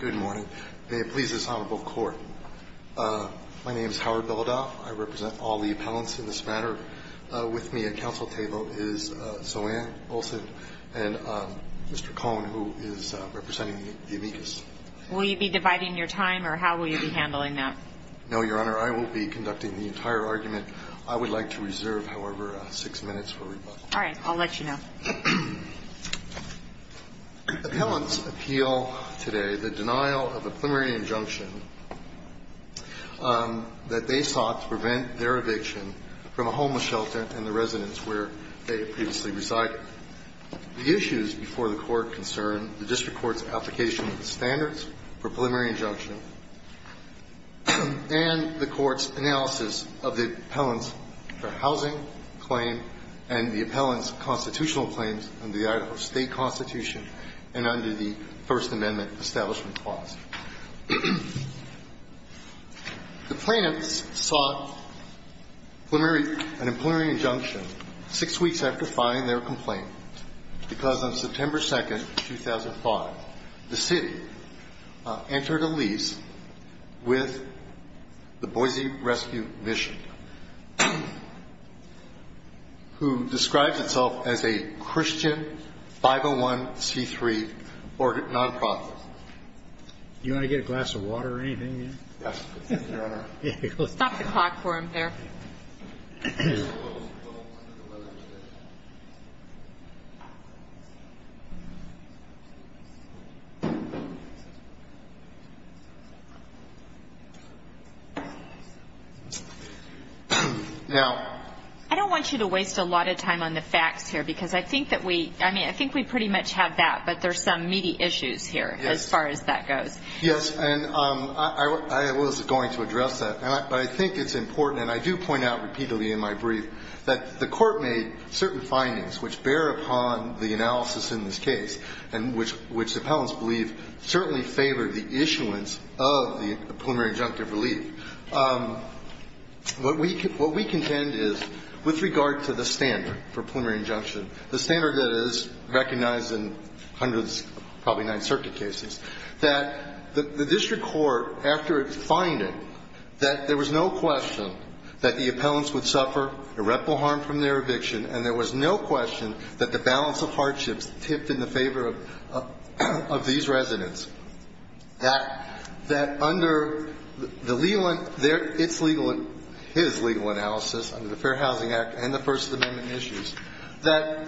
Good morning. May it please this honorable court. My name is Howard Beledoff. I represent all the appellants in this matter. With me at counsel table is Solanne Olson and Mr. Cohn who is representing the amicus. Will you be dividing your time or how will you be handling that? No, your honor. I will be conducting the entire argument. I would like to reserve, however, six minutes for rebuttal. All right. I'll let you know. Appellants appeal today the denial of a preliminary injunction that they sought to prevent their eviction from a homeless shelter and the residence where they previously resided. The issues before the court concern the district court's application of the standards for preliminary injunction and the court's analysis of the appellant's housing claim and the appellant's constitutional claims under the Idaho State Constitution and under the First Amendment establishment clause. The plaintiffs sought an preliminary injunction six weeks after filing their complaint because on September 2nd, 2005, the city entered a lease with the Boise Rescue Mission who describes itself as a Christian 501C3 nonprofit. You want to get a glass of water or anything? Yes, your honor. Stop the clock for him there. I don't want you to waste a lot of time on the facts here because I think that we, I mean, I think we pretty much have that, but there's some meaty issues here as far as that goes. Yes, and I was going to address that, but I think it's important, and I do point out repeatedly in my brief, that the court made certain findings which bear upon the analysis in this case and which the appellants believe certainly favored the issuance of the preliminary injunctive relief. What we contend is, with regard to the standard for preliminary injunction, the standard that is recognized in hundreds, probably nine circuit cases, that the district court, after its finding, that there was no question that the appellants would suffer irreparable harm from their eviction and there was no question that the balance of hardships tipped in the favor of these residents. That under the legal, its legal, his legal analysis under the Fair Housing Act and the First Amendment issues, that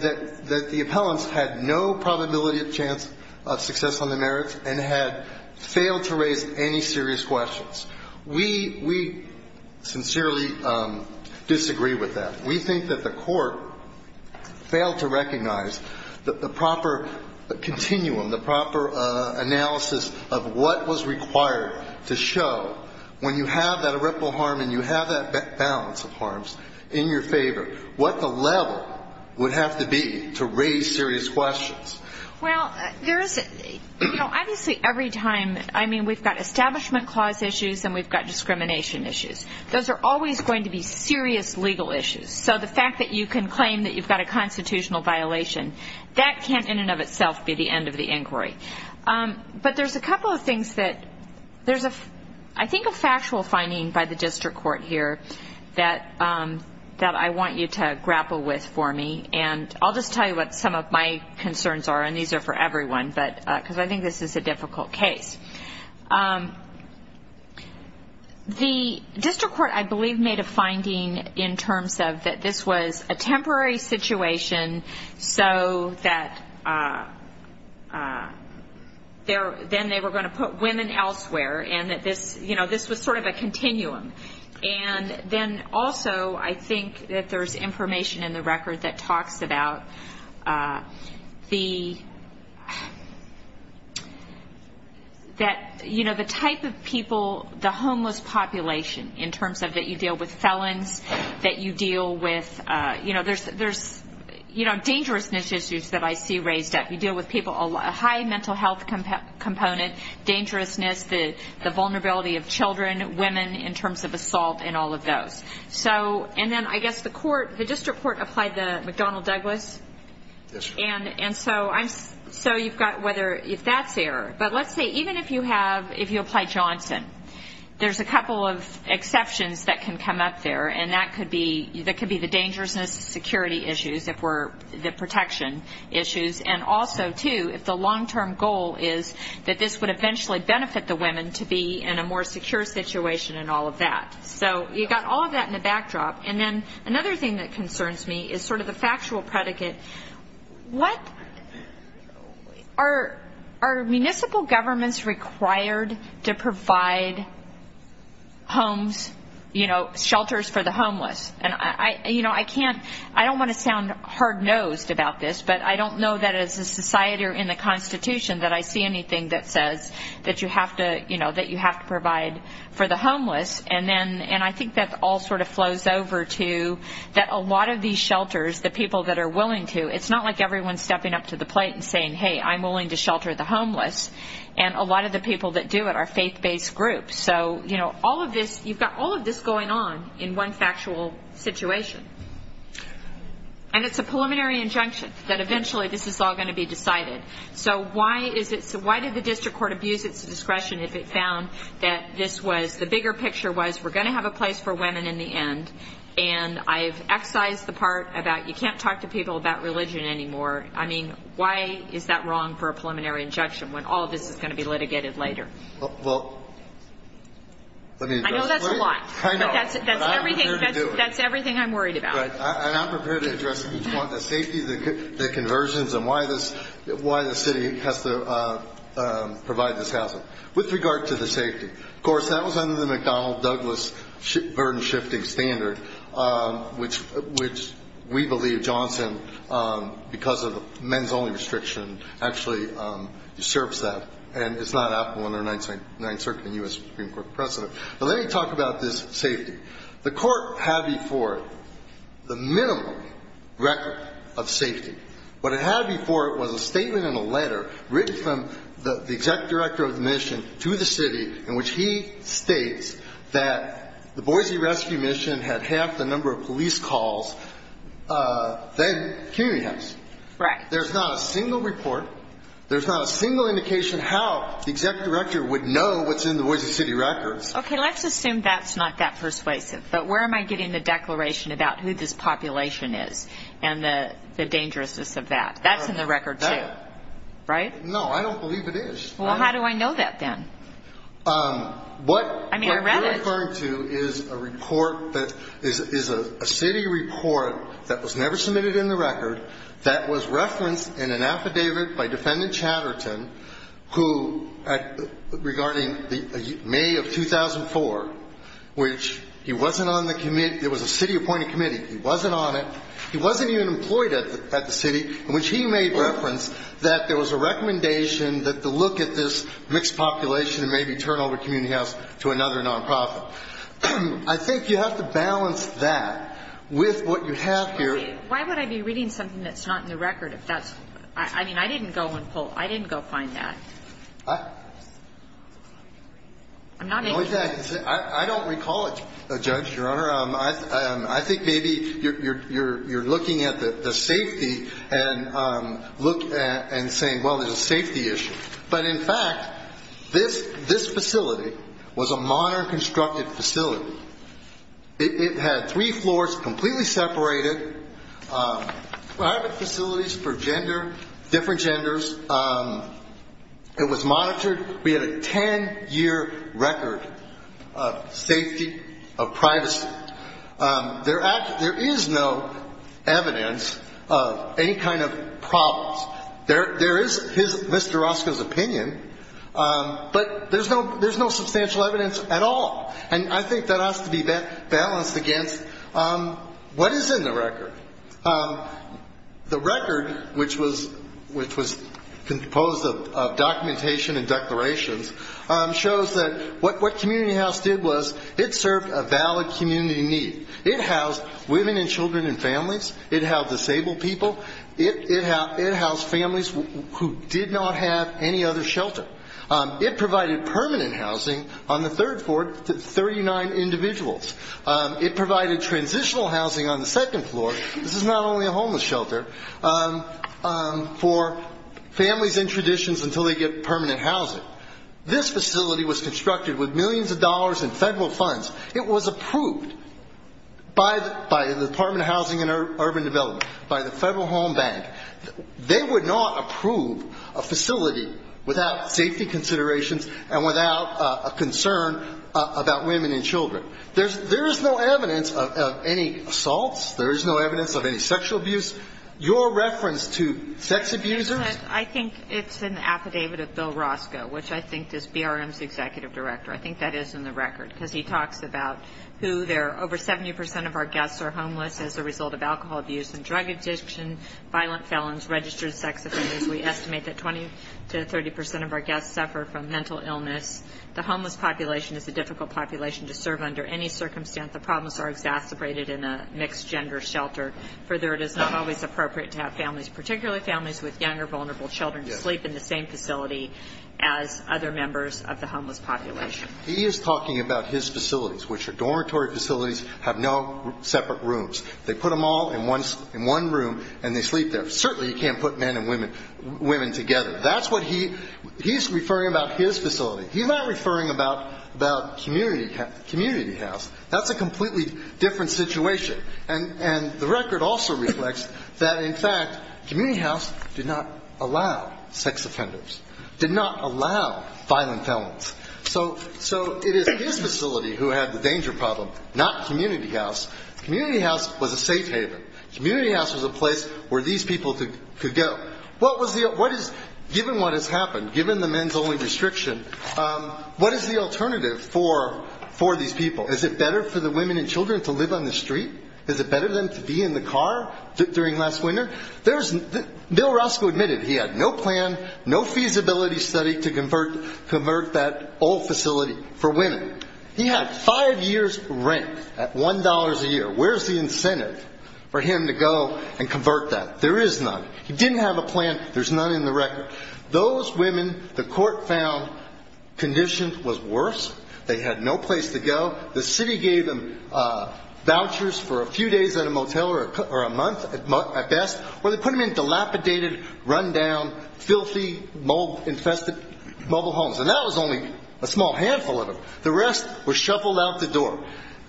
the appellants had no probability of chance of success on the merits and had failed to raise any serious questions. We sincerely disagree with that. We think that the court failed to recognize the proper continuum, the proper analysis of what was required to show when you have that irreparable harm and you have that balance of harms in your favor, what the level would have to be to raise serious questions. Well, there is, you know, obviously every time, I mean, we've got establishment clause issues and we've got discrimination issues. Those are always going to be serious legal issues. So the fact that you can claim that you've got a constitutional violation, that can't in and of itself be the end of the inquiry. But there's a couple of things that, there's a, I think a factual finding by the district court here that I want you to grapple with for me. And I'll just tell you what some of my concerns are, and these are for everyone, but, because I think this is a difficult case. The district court, I believe, made a finding in terms of that this was a temporary situation so that there, then they were going to put women elsewhere and that this, you know, this was sort of a continuum. And then also I think that there's information in the record that talks about the, that, you know, the type of people, the homeless population in terms of that you deal with felons, that you deal with, you know, there's, you know, dangerousness issues that I see raised up. You deal with people, a high mental health component, dangerousness, the vulnerability of children, women in terms of assault and all of those. So, and then I guess the court, the district court applied the McDonnell-Douglas, and so I'm, so you've got whether, if that's there. But let's say even if you have, if you apply Johnson, there's a couple of exceptions that can come up there, and that could be, that could be the dangerousness security issues, if we're, the protection issues. And also, too, if the long-term goal is that this would eventually benefit the women to be in a more secure situation and all of that. So you've got all of that in the backdrop. And then another thing that concerns me is sort of the factual predicate. What, are municipal governments required to provide homes, you know, shelters for the homeless? And I, you know, I can't, I don't want to sound hard-nosed about this, but I don't know that as a society or in the Constitution that I see anything that says that you have to, you know, that you have to provide for the homeless. And then, and I think that all sort of flows over to that a lot of these shelters, the people that are willing to, it's not like everyone's stepping up to the plate and saying, hey, I'm willing to shelter the homeless. And a lot of the people that do it are faith-based groups. So, you know, all of this, you've got all of this going on in one factual situation. And it's a preliminary injunction that eventually this is all going to be decided. So why is it, so why did the district court abuse its discretion if it found that this was, the bigger picture was we're going to have a place for women in the end. And I've excised the part about you can't talk to people about religion anymore. I mean, why is that wrong for a preliminary injunction when all of this is going to be litigated later? Well, let me address it. I know that's a lot. I know. But that's everything, that's everything I'm worried about. And I'm prepared to address each one, the safety, the conversions, and why this, why the city has to provide this housing. With regard to the safety, of course, that was under the McDonnell-Douglas burden-shifting standard, which we believe Johnson, because of men's only restriction, actually usurps that. And it's not applicable under Ninth Circuit and U.S. Supreme Court precedent. But let me talk about this safety. The court had before it the minimum record of safety. What it had before it was a statement and a letter written from the exec director of the mission to the city in which he states that the Boise rescue mission had half the number of police calls than community homes. Right. There's not a single report, there's not a single indication how the exec director would know what's in the Boise city records. Okay, let's assume that's not that persuasive. But where am I getting the declaration about who this population is and the dangerousness of that? That's in the record, too. Right? No, I don't believe it is. Well, how do I know that, then? What you're referring to is a report that is a city report that was never submitted in the record that was referenced in an affidavit by defendant Chatterton, who, regarding May of 2004, which he wasn't on the committee, it was a city-appointed committee, he wasn't on it, he wasn't even employed at the city, in which he made reference that there was a recommendation that the look at this mixed population and maybe turn over community house to another nonprofit. I think you have to balance that with what you have here. Why would I be reading something that's not in the record if that's – I mean, I didn't go and pull – I didn't go find that. I'm not making – I don't recall it, Judge, Your Honor. I think maybe you're looking at the safety and saying, well, there's a safety issue. But, in fact, this facility was a modern constructed facility. It had three floors, completely separated, private facilities for gender, different genders. It was monitored. We had a ten-year record of safety, of privacy. There is no evidence of any kind of problems. There is Mr. Orozco's opinion, but there's no substantial evidence at all. And I think that has to be balanced against what is in the record. The record, which was composed of documentation and declarations, shows that what community house did was it served a valid community need. It housed women and children and families. It housed disabled people. It housed families who did not have any other shelter. It provided permanent housing on the third floor to 39 individuals. It provided transitional housing on the second floor. This is not only a homeless shelter for families and traditions until they get permanent housing. This facility was constructed with millions of dollars in federal funds. It was approved by the Department of Housing and Urban Development, by the Federal Home Bank. They would not approve a facility without safety considerations and without a concern about women and children. There is no evidence of any assaults. There is no evidence of any sexual abuse. Your reference to sex abusers? I think it's an affidavit of Bill Orozco, which I think is BRM's executive director. I think that is in the record, because he talks about who there are over 70 percent of our guests are homeless as a result of alcohol abuse and drug addiction, violent felons, registered sex offenders. We estimate that 20 to 30 percent of our guests suffer from mental illness. The homeless population is a difficult population to serve under any circumstance. The problems are exacerbated in a mixed gender shelter. Further, it is not always appropriate to have families, particularly families with young or vulnerable children, sleep in the same facility as other members of the homeless population. He is talking about his facilities, which are dormitory facilities, have no separate rooms. They put them all in one room and they sleep there. Certainly you can't put men and women together. That's what he's referring about his facility. He's not referring about community house. That's a completely different situation. And the record also reflects that, in fact, community house did not allow sex offenders, did not allow violent felons. So it is his facility who had the danger problem, not community house. Community house was a safe haven. Community house was a place where these people could go. Given what has happened, given the men's only restriction, what is the alternative for these people? Is it better for the women and children to live on the street? Is it better for them to be in the car during last winter? Bill Roscoe admitted he had no plan, no feasibility study to convert that old facility for women. He had five years' rent at $1 a year. Where's the incentive for him to go and convert that? There is none. He didn't have a plan. There's none in the record. Those women, the court found conditions was worse. They had no place to go. The city gave them vouchers for a few days at a motel or a month at best, where they put them in dilapidated, run-down, filthy, mold-infested mobile homes. And that was only a small handful of them. The rest were shuffled out the door.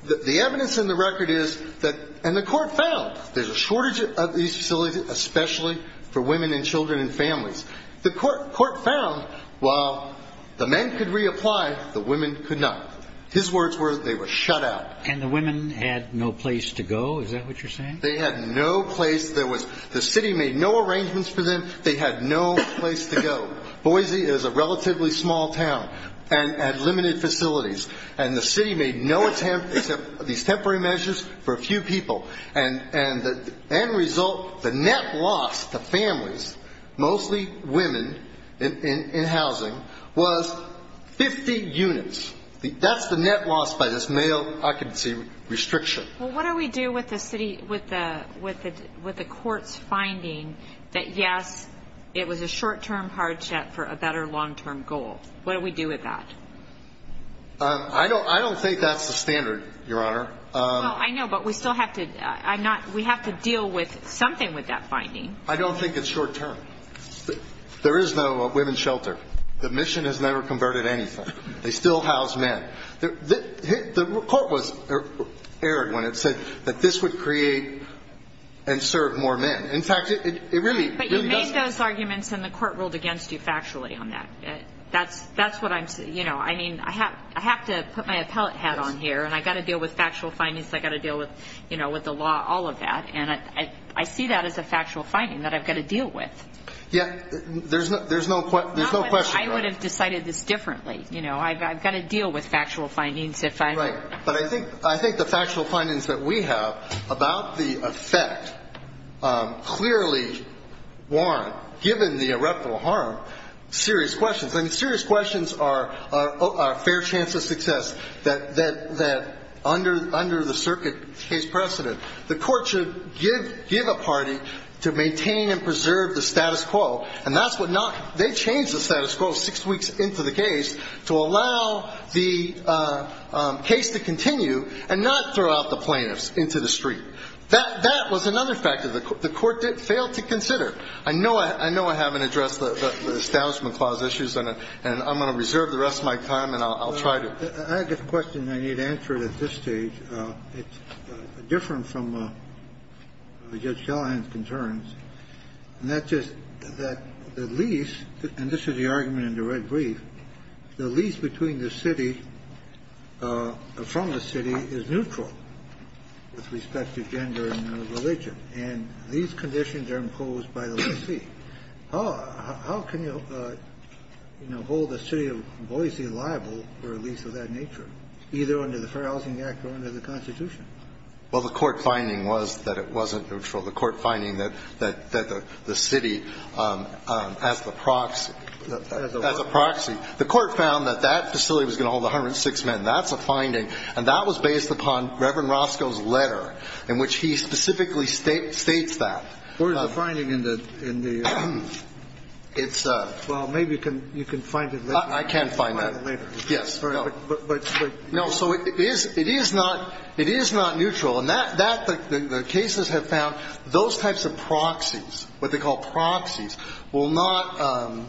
The evidence in the record is that the court found there's a shortage of these facilities, especially for women and children and families. The court found while the men could reapply, the women could not. His words were they were shut out. And the women had no place to go? Is that what you're saying? They had no place. The city made no arrangements for them. They had no place to go. Boise is a relatively small town and had limited facilities. And the city made no attempt except these temporary measures for a few people. And the end result, the net loss to families, mostly women in housing, was 50 units. That's the net loss by this male occupancy restriction. Well, what do we do with the court's finding that, yes, it was a short-term hardship for a better long-term goal? What do we do with that? I don't think that's the standard, Your Honor. No, I know, but we still have to deal with something with that finding. I don't think it's short-term. There is no women's shelter. The mission has never converted anything. They still house men. The court was errant when it said that this would create and serve more men. In fact, it really does. But you made those arguments, and the court ruled against you factually on that. That's what I'm saying. I mean, I have to put my appellate hat on here, and I've got to deal with factual findings. I've got to deal with the law, all of that. And I see that as a factual finding that I've got to deal with. Yeah, there's no question. I would have decided this differently. You know, I've got to deal with factual findings if I'm going to. Right. But I think the factual findings that we have about the effect clearly warrant, given the irreparable harm, serious questions. I mean, serious questions are a fair chance of success, that under the circuit case precedent, the court should give a party to maintain and preserve the status quo, and that's what not they changed the status quo six weeks into the case to allow the case to continue and not throw out the plaintiffs into the street. That was another factor the court failed to consider. I know I haven't addressed the Establishment Clause issues, and I'm going to reserve the rest of my time, and I'll try to. I have a question, and I need to answer it at this stage. It's different from Judge Shallahan's concerns, and that's just that the lease, and this is the argument in the red brief, the lease between the city, from the city, is neutral with respect to gender and religion. And these conditions are imposed by the leasee. How can you, you know, hold the city of Boise liable for a lease of that nature, either under the Fair Housing Act or under the Constitution? Well, the court finding was that it wasn't neutral. The court finding that the city, as the proxy, as a proxy. The court found that that facility was going to hold 106 men. That's a finding, and that was based upon Reverend Roscoe's letter in which he specifically states that. Where's the finding in the? It's a. Well, maybe you can find it later. I can find that later. Yes. No, so it is not neutral. And the cases have found those types of proxies, what they call proxies, will not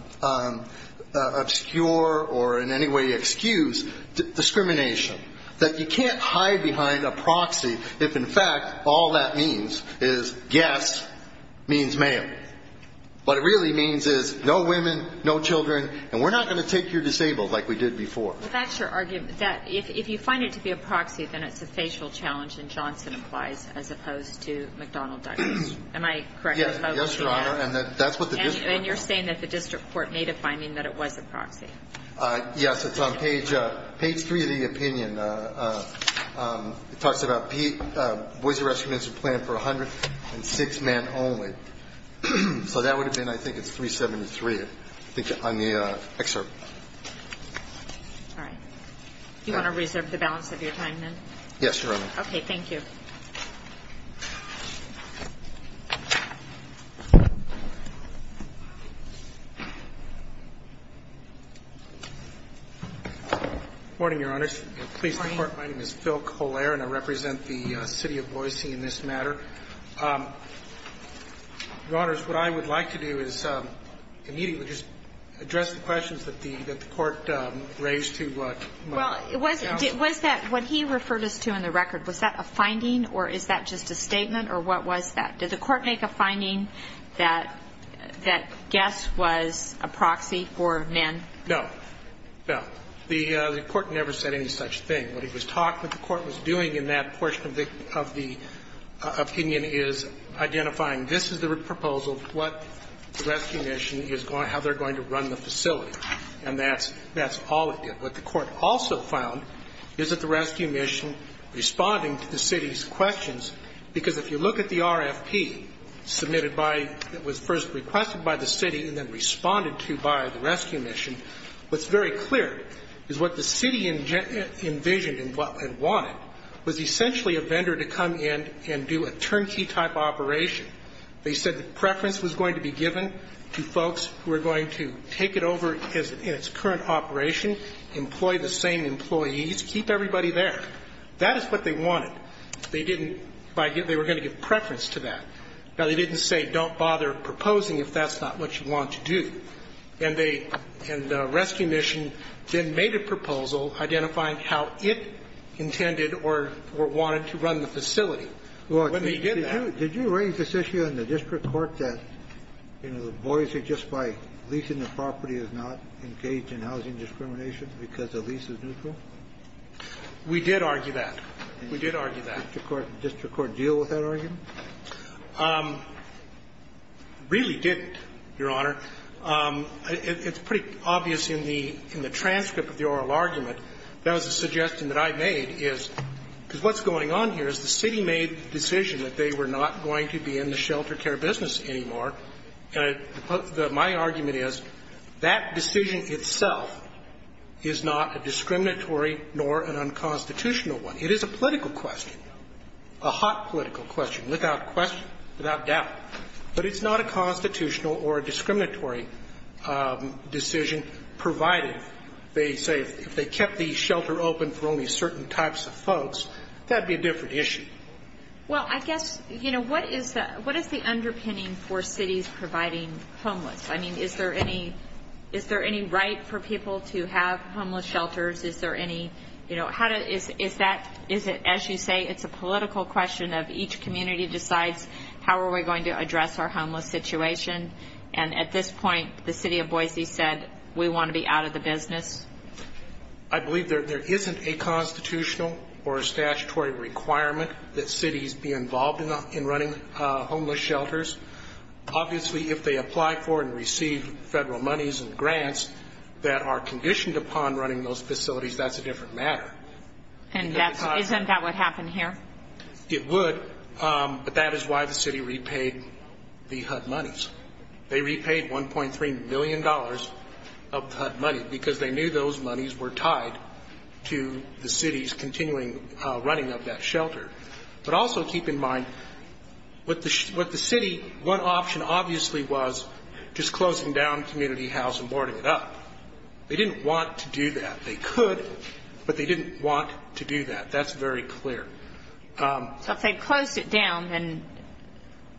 obscure or in any way excuse discrimination, that you can't hide behind a proxy if, in fact, all that means is, yes, means male. What it really means is no women, no children, and we're not going to take your disabled like we did before. Well, that's your argument, that if you find it to be a proxy, then it's a facial challenge and Johnson applies as opposed to McDonnell Douglas. Am I correct? Yes, Your Honor, and that's what the district. And you're saying that the district court made a finding that it was a proxy. Yes. It's on page three of the opinion. It talks about Boise Residential Plan for 106 men only. So that would have been, I think it's 373, I think, on the excerpt. All right. Do you want to reserve the balance of your time, then? Yes, Your Honor. Okay. Thank you. Good morning, Your Honor. My name is Phil Colare, and I represent the City of Boise in this matter. Your Honors, what I would like to do is immediately just address the questions that the court raised to my colleague. Well, was that what he referred us to in the record? Was that a finding, or is that just a statement, or what was that? Did the court make a finding that guess was a proxy for men? No. No. The court never said any such thing. What he was talking about, what the court was doing in that portion of the opinion is identifying this is the proposal, what the rescue mission is going to do, how they're going to run the facility. And that's all it did. What the court also found is that the rescue mission, responding to the city's questions, because if you look at the RFP submitted by, that was first requested by the city and then responded to by the rescue mission, what's very clear is what the city envisioned and wanted was essentially a vendor to come in and do a turnkey type operation. They said the preference was going to be given to folks who were going to take it over in its current operation, employ the same employees, keep everybody there. That is what they wanted. They didn't, they were going to give preference to that. Now, they didn't say don't bother proposing if that's not what you want to do. And the rescue mission then made a proposal identifying how it intended or wanted to run the facility when they did that. Well, did you raise this issue in the district court that, you know, the boys who just by leasing the property is not engaged in housing discrimination because the lease is neutral? We did argue that. We did argue that. Did the district court deal with that argument? Really didn't, Your Honor. It's pretty obvious in the transcript of the oral argument that was a suggestion that I made is because what's going on here is the city made the decision that they were not going to be in the shelter care business anymore. And my argument is that decision itself is not a discriminatory nor an unconstitutional one. It is a political question, a hot political question, without question, without doubt. But it's not a constitutional or a discriminatory decision provided, they say, if they kept the shelter open for only certain types of folks, that would be a different issue. Well, I guess, you know, what is the underpinning for cities providing homeless? I mean, is there any right for people to have homeless shelters? Is there any, you know, is that, as you say, it's a political question of each community decides how are we going to address our homeless situation. And at this point, the city of Boise said, we want to be out of the business. I believe there isn't a constitutional or a statutory requirement that cities be involved in running homeless shelters. Obviously, if they apply for and receive federal monies and grants that are conditioned upon running those facilities, that's a different matter. And isn't that what happened here? It would, but that is why the city repaid the HUD monies. They repaid $1.3 million of HUD money, because they knew those monies were tied to the city's continuing running of that shelter. But also keep in mind, with the city, one option obviously was just closing down community house and boarding it up. They didn't want to do that. They could, but they didn't want to do that. And that's very clear. So if they closed it down,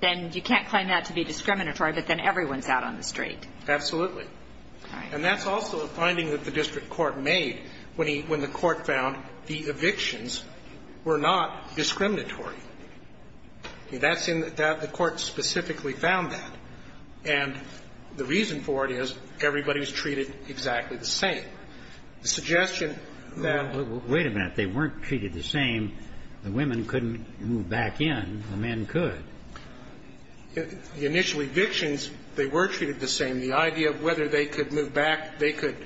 then you can't claim that to be discriminatory, but then everyone's out on the street. Absolutely. And that's also a finding that the district court made when he – when the court found the evictions were not discriminatory. That's in – the court specifically found that. And the reason for it is everybody was treated exactly the same. The suggestion that – Wait a minute. They weren't treated the same. The women couldn't move back in. The men could. The initial evictions, they were treated the same. The idea of whether they could move back in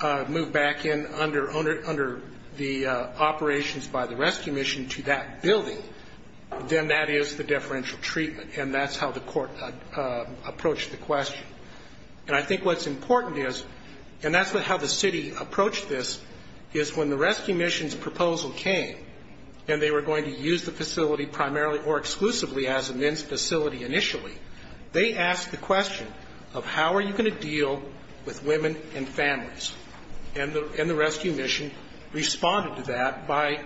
under the operations by the rescue mission to that building, then that is the deferential treatment, and that's how the court approached the question. And I think what's important is, and that's how the city approached this, is when the rescue mission's proposal came and they were going to use the facility primarily or exclusively as a men's facility initially, they asked the question of how are you going to deal with women and families. And the rescue mission responded to that by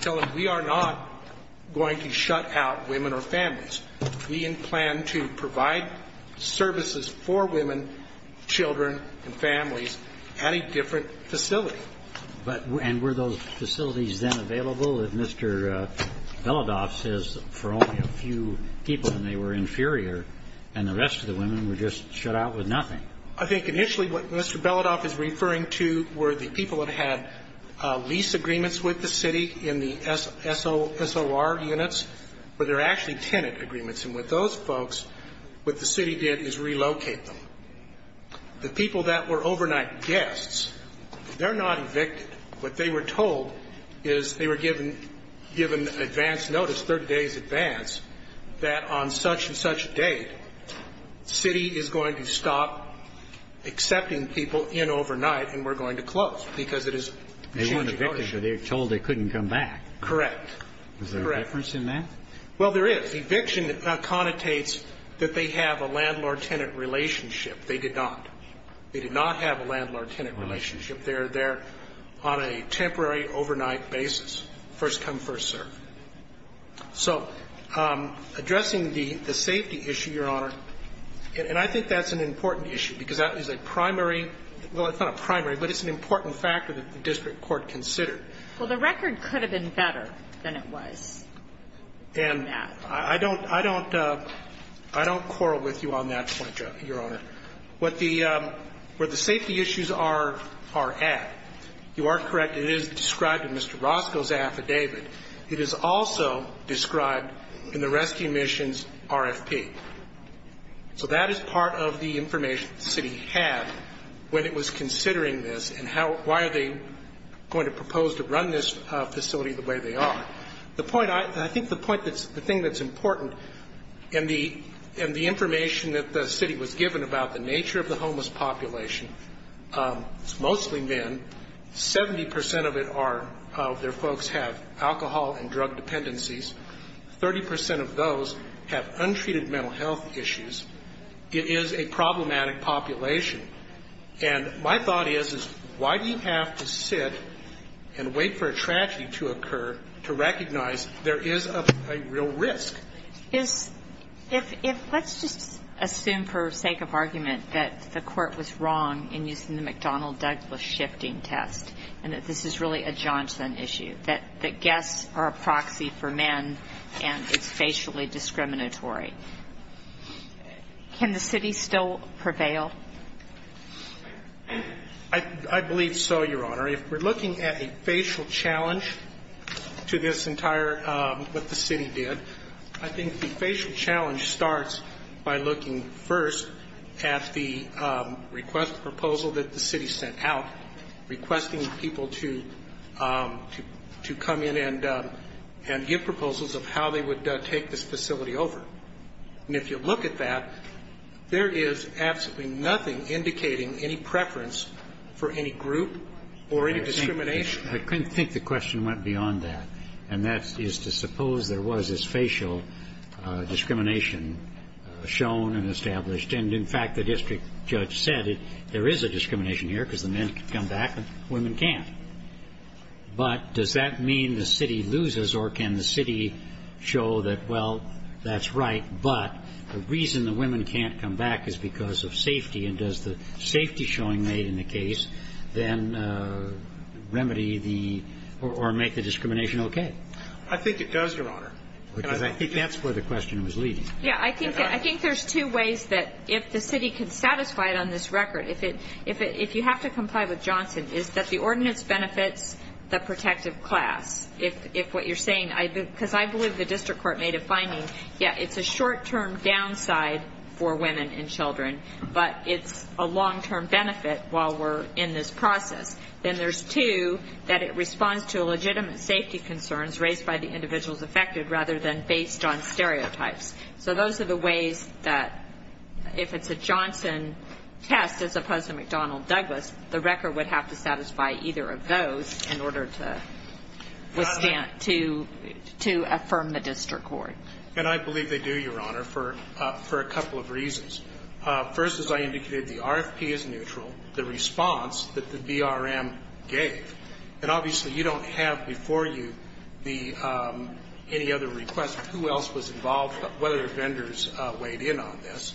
telling, we are not going to shut out women or families. We plan to provide services for women, children, and families at a different facility. And were those facilities then available? If Mr. Beladoff says for only a few people and they were inferior and the rest of the women were just shut out with nothing. I think initially what Mr. Beladoff is referring to were the people that had lease agreements with the city in the SOSOR units, but they're actually tenant agreements. And with those folks, what the city did is relocate them. The people that were overnight guests, they're not evicted. What they were told is they were given advance notice, 30 days advance, that on such and such a date, city is going to stop accepting people in overnight and we're going to close because it is. They weren't evicted because they were told they couldn't come back. Correct. Correct. Is there a difference in that? Well, there is. The eviction connotates that they have a landlord-tenant relationship. They did not. They did not have a landlord-tenant relationship. They're there on a temporary overnight basis, first come, first serve. So addressing the safety issue, Your Honor, and I think that's an important issue because that is a primary, well, it's not a primary, but it's an important factor that the district court considered. Well, the record could have been better than it was. And I don't quarrel with you on that point, Your Honor. Where the safety issues are at, you are correct, it is described in Mr. Roscoe's affidavit. It is also described in the rescue mission's RFP. So that is part of the information the city had when it was considering this and why are they going to propose to run this facility the way they are. The point, I think the thing that's important in the information that the city was given about the nature of the homeless population, it's mostly men. Seventy percent of their folks have alcohol and drug dependencies. Thirty percent of those have untreated mental health issues. It is a problematic population. And my thought is, is why do you have to sit and wait for a tragedy to occur to recognize there is a real risk? Let's just assume for sake of argument that the court was wrong in using the McDonnell-Douglas shifting test and that this is really a Johnson issue, that guests are a proxy for men and it's facially discriminatory. Can the city still prevail? I believe so, Your Honor. If we're looking at a facial challenge to this entire, what the city did, I think the facial challenge starts by looking first at the proposal that the city sent out, requesting people to come in and give proposals of how they would take this facility over. And if you look at that, there is absolutely nothing indicating any preference for any group or any discrimination. I couldn't think the question went beyond that, and that is to suppose there was this facial discrimination shown and established. And, in fact, the district judge said there is a discrimination here because the men can come back and women can't. But does that mean the city loses or can the city show that, well, that's right, but the reason the women can't come back is because of safety, and does the safety showing made in the case then remedy the or make the discrimination okay? I think it does, Your Honor. Because I think that's where the question was leading. Yeah. I think there's two ways that if the city can satisfy it on this record, if you have to comply with Johnson, is that the ordinance benefits the protective class. If what you're saying, because I believe the district court made a finding, yeah, it's a short-term downside for women and children, but it's a long-term benefit while we're in this process. Then there's two, that it responds to a legitimate safety concern raised by the individuals affected rather than based on stereotypes. So those are the ways that if it's a Johnson test as opposed to McDonnell-Douglas, the record would have to satisfy either of those in order to affirm the district court. And I believe they do, Your Honor, for a couple of reasons. First, as I indicated, the RFP is neutral. The response that the BRM gave, and obviously you don't have before you any other request as to who else was involved or whether vendors weighed in on this,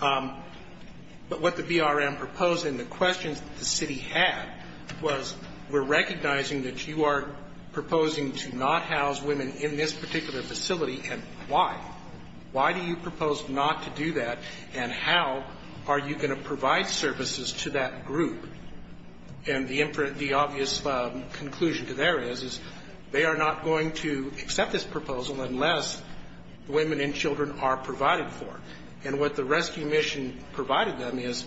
but what the BRM proposed and the questions that the city had was, we're recognizing that you are proposing to not house women in this particular facility, and why? Why do you propose not to do that, and how are you going to provide services to that group? And the obvious conclusion to there is they are not going to accept this proposal unless women and children are provided for. And what the rescue mission provided them is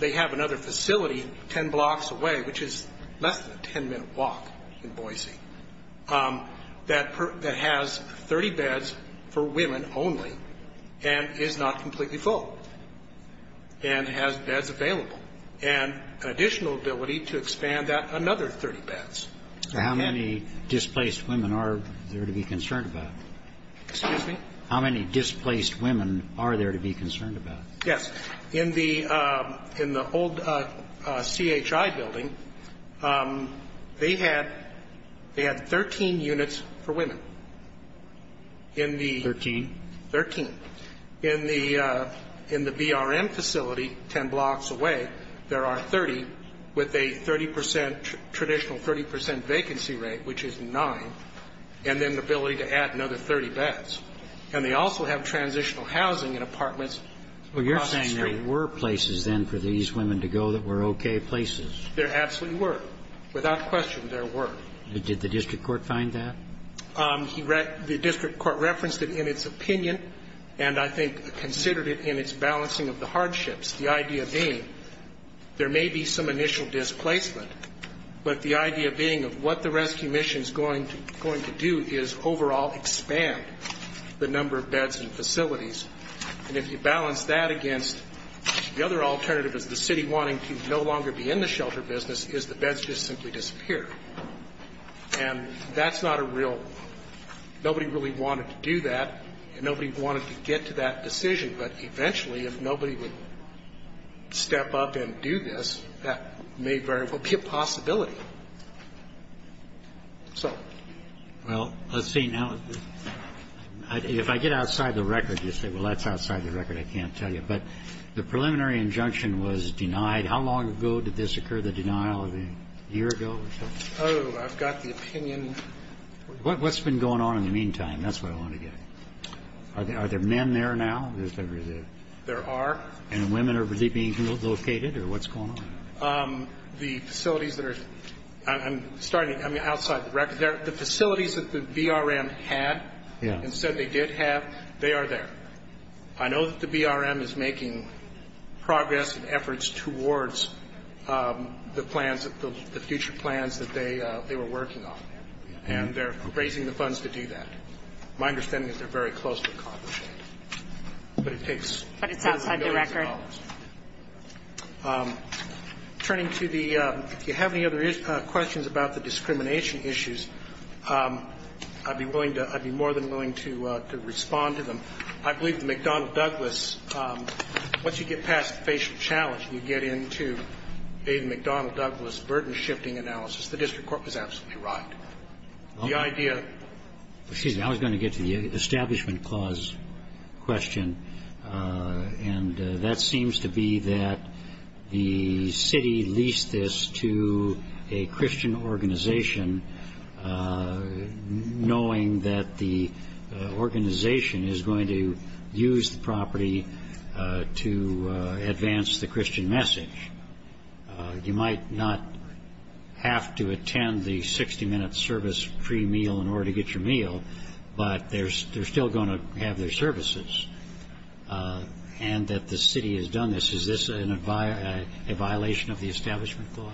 they have another facility ten blocks away, which is less than a ten-minute walk in Boise, that has 30 beds for women only and is not completely full and has beds available, and an additional ability to expand that another 30 beds. So how many displaced women are there to be concerned about? Excuse me? How many displaced women are there to be concerned about? Yes. In the old CHI building, they had 13 units for women. Thirteen? Thirteen. In the BRM facility ten blocks away, there are 30 with a 30 percent, traditional 30 percent vacancy rate, which is nine, and then the ability to add another 30 beds. And they also have transitional housing and apartments across the street. Well, you're saying there were places then for these women to go that were okay places. There absolutely were. Without question, there were. Did the district court find that? The district court referenced it in its opinion and I think considered it in its balancing of the hardships, the idea being there may be some initial displacement, but the idea being of what the rescue mission is going to do is overall expand the number of beds and facilities, and if you balance that against the other alternative is the city wanting to no longer be in the shelter business is the beds just simply disappear. And that's not a real – nobody really wanted to do that and nobody wanted to get to that decision, but eventually if nobody would step up and do this, that may very well be a possibility. So. Well, let's see. Now, if I get outside the record, you say, well, that's outside the record, I can't tell you. But the preliminary injunction was denied. How long ago did this occur, the denial? A year ago or so? Oh, I've got the opinion. What's been going on in the meantime? That's what I want to get at. Are there men there now? There are. And women are being relocated or what's going on? The facilities that are – I'm starting outside the record. The facilities that the BRM had and said they did have, they are there. I know that the BRM is making progress and efforts towards the plans, the future plans that they were working on. And they're raising the funds to do that. My understanding is they're very close to accomplishing it. But it takes billions and billions of dollars. But it's outside the record. Turning to the – if you have any other questions about the discrimination issues, I'd be willing to – I'd be more than willing to respond to them. I believe the McDonnell-Douglas, once you get past the facial challenge and you get into a McDonnell-Douglas burden-shifting analysis, the district court was absolutely right. The idea – Excuse me. I was going to get to the Establishment Clause question. And that seems to be that the city leased this to a Christian organization, knowing that the organization is going to use the property to advance the Christian message. You might not have to attend the 60-minute service pre-meal in order to get your meal, but they're still going to have their services, and that the city has done this. Is this a violation of the Establishment Clause?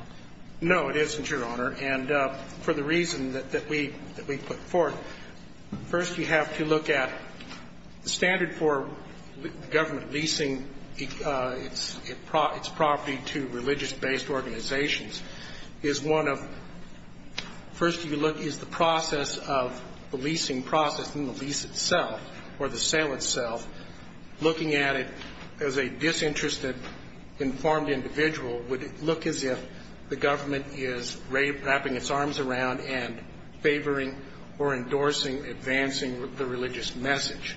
No, it isn't, Your Honor. And for the reason that we put forth, first you have to look at the standard for government leasing its property to religious-based organizations is one of – the leasing process in the lease itself or the sale itself, looking at it as a disinterested, informed individual, would look as if the government is wrapping its arms around and favoring or endorsing advancing the religious message.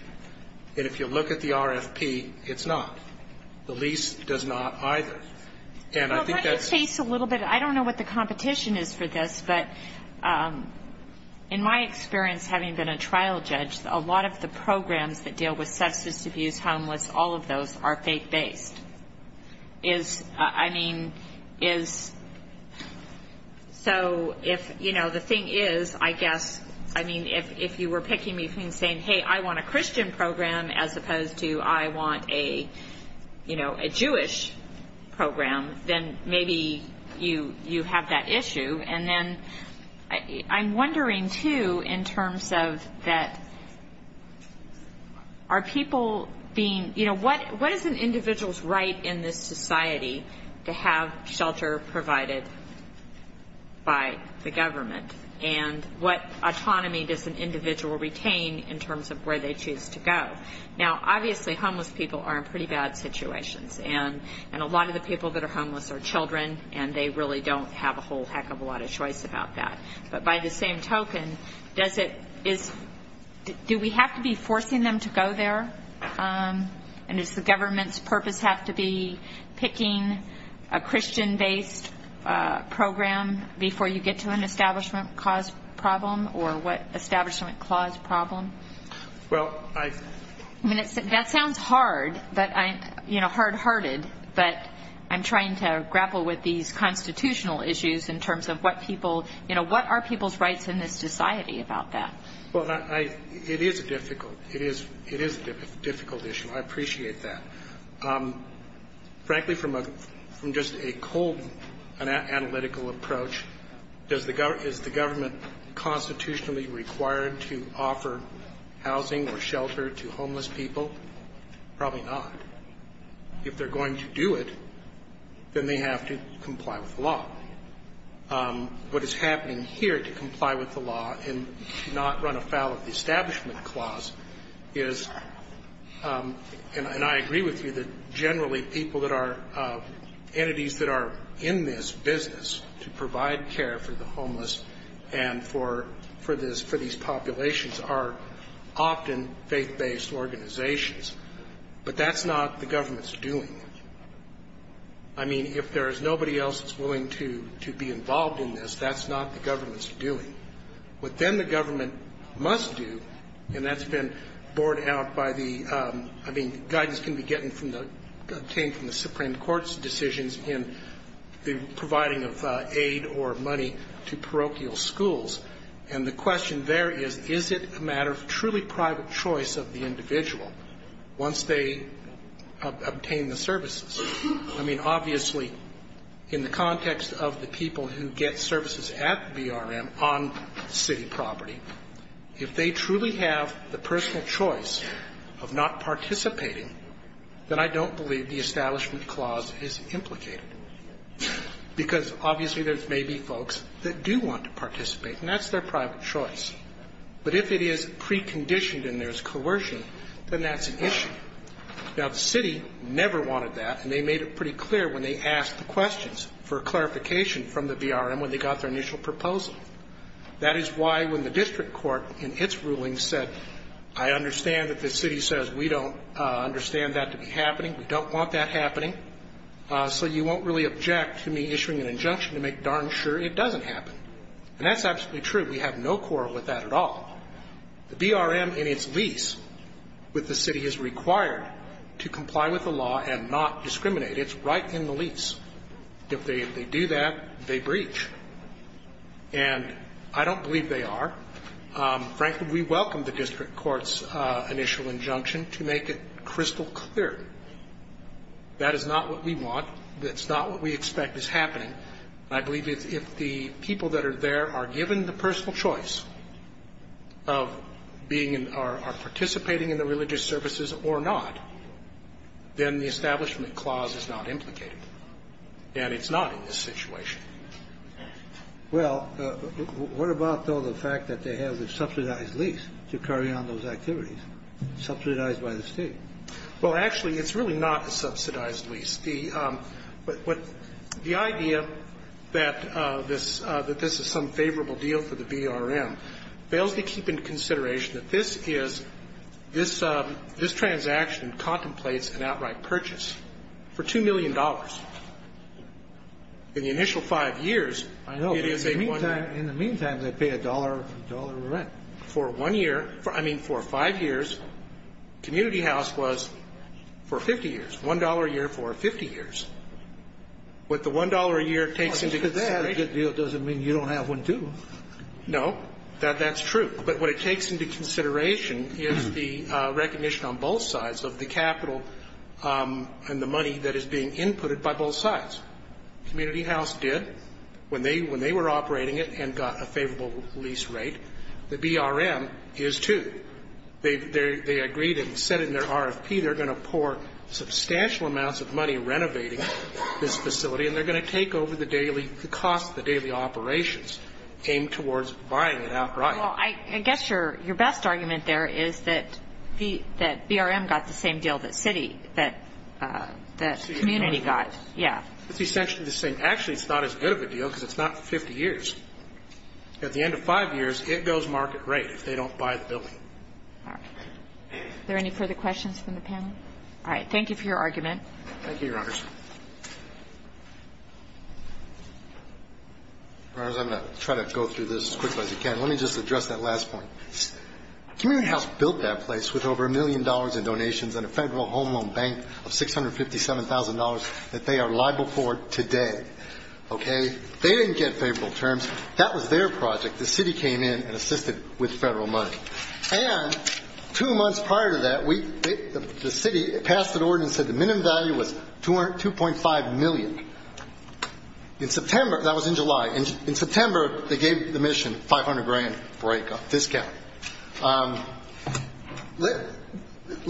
And if you look at the RFP, it's not. The lease does not either. And I think that's – Well, let me chase a little bit. I don't know what the competition is for this, but in my experience having been a trial judge, a lot of the programs that deal with substance abuse, homeless, all of those are faith-based. Is – I mean, is – so if, you know, the thing is, I guess, I mean, if you were picking me from saying, hey, I want a Christian program as opposed to I want a, you know, a Jewish program, then maybe you have that issue. And then I'm wondering, too, in terms of that are people being – you know, what is an individual's right in this society to have shelter provided by the government? And what autonomy does an individual retain in terms of where they choose to go? Now, obviously, homeless people are in pretty bad situations. And a lot of the people that are homeless are children, and they really don't have a whole heck of a lot of choice about that. But by the same token, does it – is – do we have to be forcing them to go there? And does the government's purpose have to be picking a Christian-based program before you get to an establishment cause problem or what establishment cause problem? Well, I – I mean, that sounds hard, but I'm – you know, hard-hearted. But I'm trying to grapple with these constitutional issues in terms of what people – you know, what are people's rights in this society about that? Well, I – it is a difficult – it is a difficult issue. I appreciate that. Frankly, from just a cold analytical approach, is the government constitutionally required to offer housing or shelter to homeless people? Probably not. If they're going to do it, then they have to comply with the law. What is happening here to comply with the law and not run afoul of the establishment clause is – and I agree with you that generally people that are – that provide care for the homeless and for this – for these populations are often faith-based organizations. But that's not the government's doing. I mean, if there is nobody else that's willing to be involved in this, that's not the government's doing. What then the government must do, and that's been borne out by the – I mean, guidance can be getting from the – in providing of aid or money to parochial schools. And the question there is, is it a matter of truly private choice of the individual once they obtain the services? I mean, obviously, in the context of the people who get services at the BRM on city property, if they truly have the personal choice of not participating, then I don't believe the establishment clause is implicated. Because obviously there may be folks that do want to participate, and that's their private choice. But if it is preconditioned and there's coercion, then that's an issue. Now, the city never wanted that, and they made it pretty clear when they asked the questions for clarification from the BRM when they got their initial proposal. That is why when the district court in its ruling said, I understand that the city says we don't understand that to be happening, we don't want that happening, so you won't really object to me issuing an injunction to make darn sure it doesn't happen. And that's absolutely true. We have no quarrel with that at all. The BRM in its lease with the city is required to comply with the law and not discriminate. It's right in the lease. If they do that, they breach. And I don't believe they are. Frankly, we welcome the district court's initial injunction to make it crystal clear. That is not what we want. That's not what we expect is happening. And I believe if the people that are there are given the personal choice of being and are participating in the religious services or not, then the Establishment Clause is not implicated. And it's not in this situation. Well, what about, though, the fact that they have a subsidized lease to carry on those activities, subsidized by the State? Well, actually, it's really not a subsidized lease. The idea that this is some favorable deal for the BRM fails to keep in consideration that this is this transaction contemplates an outright purchase for $2 million. In the initial five years, it is a one-year. I know. But in the meantime, they pay a dollar rent. For one year, I mean for five years, community house was for 50 years, $1 a year for 50 years. What the $1 a year takes into consideration. Well, just because they have a good deal doesn't mean you don't have one, too. No. That's true. But what it takes into consideration is the recognition on both sides of the capital and the money that is being inputted by both sides. Community house did when they were operating it and got a favorable lease rate. The BRM is, too. They agreed and said in their RFP they're going to pour substantial amounts of money renovating this facility, and they're going to take over the daily costs, the daily operations, aimed towards buying it outright. Well, I guess your best argument there is that BRM got the same deal that city, that community got. Yeah. It's essentially the same. Actually, it's not as good of a deal because it's not for 50 years. At the end of five years, it goes market rate if they don't buy the building. All right. Are there any further questions from the panel? All right. Thank you for your argument. Thank you, Your Honors. Your Honors, I'm going to try to go through this as quickly as I can. Let me just address that last point. Community house built that place with over a million dollars in donations and a federal home loan bank of $657,000 that they are liable for today. Okay? They didn't get favorable terms. That was their project. The city came in and assisted with federal money. And two months prior to that, the city passed an order and said the minimum value was $250,000. That was in July. In September, they gave the mission $500,000 discount. Let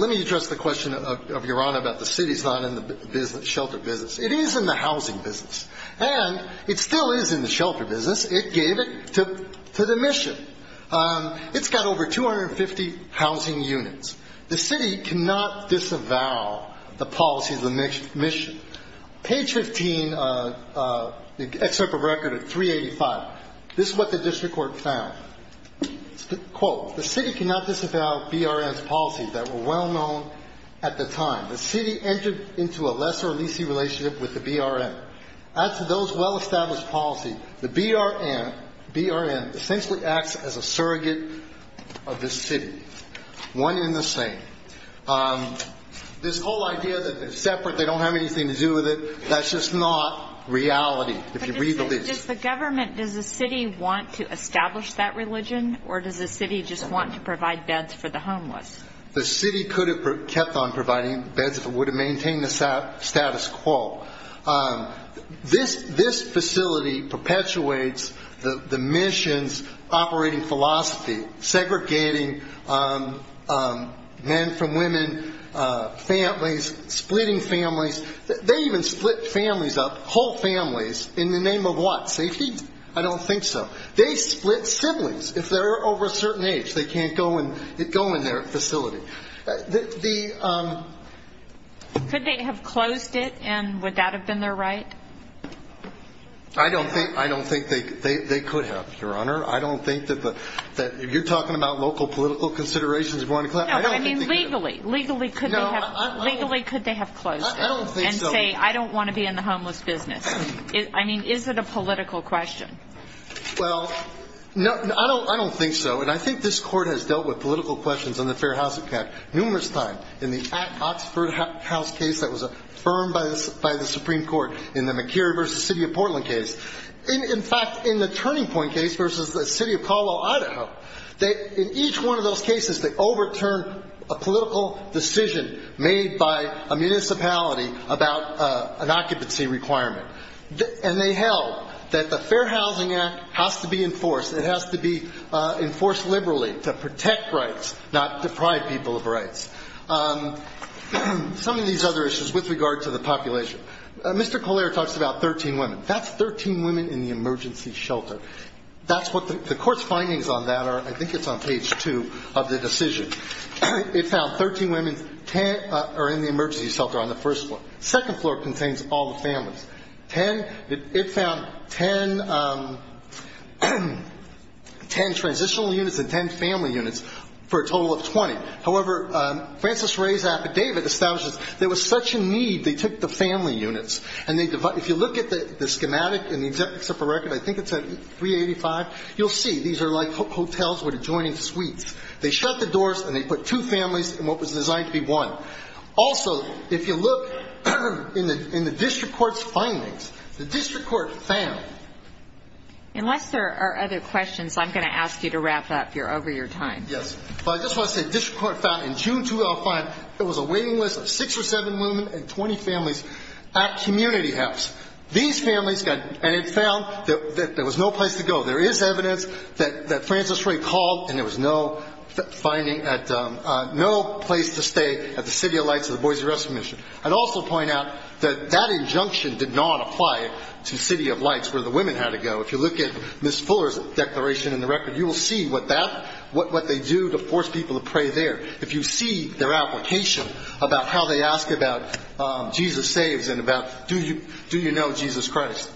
me address the question of Your Honor about the city's not in the shelter business. It is in the housing business. And it still is in the shelter business. It gave it to the mission. It's got over 250 housing units. The city cannot disavow the policies of the mission. Page 15, the excerpt from record of 385, this is what the district court found. Quote, the city cannot disavow BRM's policies that were well-known at the time. The city entered into a lesser leasing relationship with the BRM. As to those well-established policies, the BRM essentially acts as a surrogate of the city. One and the same. This whole idea that they're separate, they don't have anything to do with it, that's just not reality, if you read the lease. But does the government, does the city want to establish that religion, or does the city just want to provide beds for the homeless? The city could have kept on providing beds if it would have maintained the status quo. This facility perpetuates the mission's operating philosophy, segregating men from women, families, splitting families. They even split families up, whole families, in the name of what, safety? I don't think so. They split siblings if they're over a certain age, they can't go in their facility. Could they have closed it, and would that have been their right? I don't think they could have, Your Honor. I don't think that the, you're talking about local political considerations. No, I mean, legally. Legally, could they have closed it and say, I don't want to be in the homeless business? I mean, is it a political question? Well, I don't think so. And I think this court has dealt with political questions on the Fair Housing Act numerous times. In the Oxford House case that was affirmed by the Supreme Court, in the McGeary v. City of Portland case. In fact, in the Turning Point case v. the City of Colwell, Idaho, in each one of those cases they overturned a political decision made by a municipality about an occupancy requirement. And they held that the Fair Housing Act has to be enforced. It has to be enforced liberally to protect rights, not deprive people of rights. Some of these other issues with regard to the population. Mr. Collier talks about 13 women. That's 13 women in the emergency shelter. That's what the court's findings on that are. I think it's on page 2 of the decision. It found 13 women are in the emergency shelter on the first floor. Second floor contains all the families. It found 10 transitional units and 10 family units for a total of 20. However, Francis Ray's affidavit establishes there was such a need they took the family units. And if you look at the schematic in the except for record, I think it's at 385, you'll see these are like hotels with adjoining suites. They shut the doors and they put two families in what was designed to be one. Also, if you look in the district court's findings, the district court found. Unless there are other questions, I'm going to ask you to wrap up. You're over your time. Yes. Well, I just want to say the district court found in June 2005 there was a waiting list of 6 or 7 women and 20 families at community house. These families got, and it found that there was no place to go. There is evidence that Francis Ray called and there was no finding, no place to stay at the City of Lights of the Boise Rescue Mission. I'd also point out that that injunction did not apply to City of Lights where the women had to go. If you look at Ms. Fuller's declaration in the record, you will see what that, what they do to force people to pray there. If you see their application about how they ask about Jesus saves and about do you know Jesus Christ.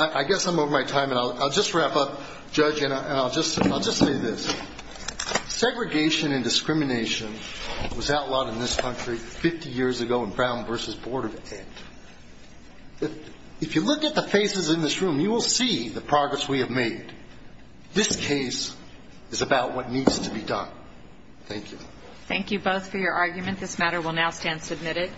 I guess I'm over my time and I'll just wrap up, Judge, and I'll just say this. Segregation and discrimination was outlawed in this country 50 years ago in Brown v. Board of Ed. If you look at the faces in this room, you will see the progress we have made. This case is about what needs to be done. Thank you. Thank you both for your argument. This matter will now stand submitted.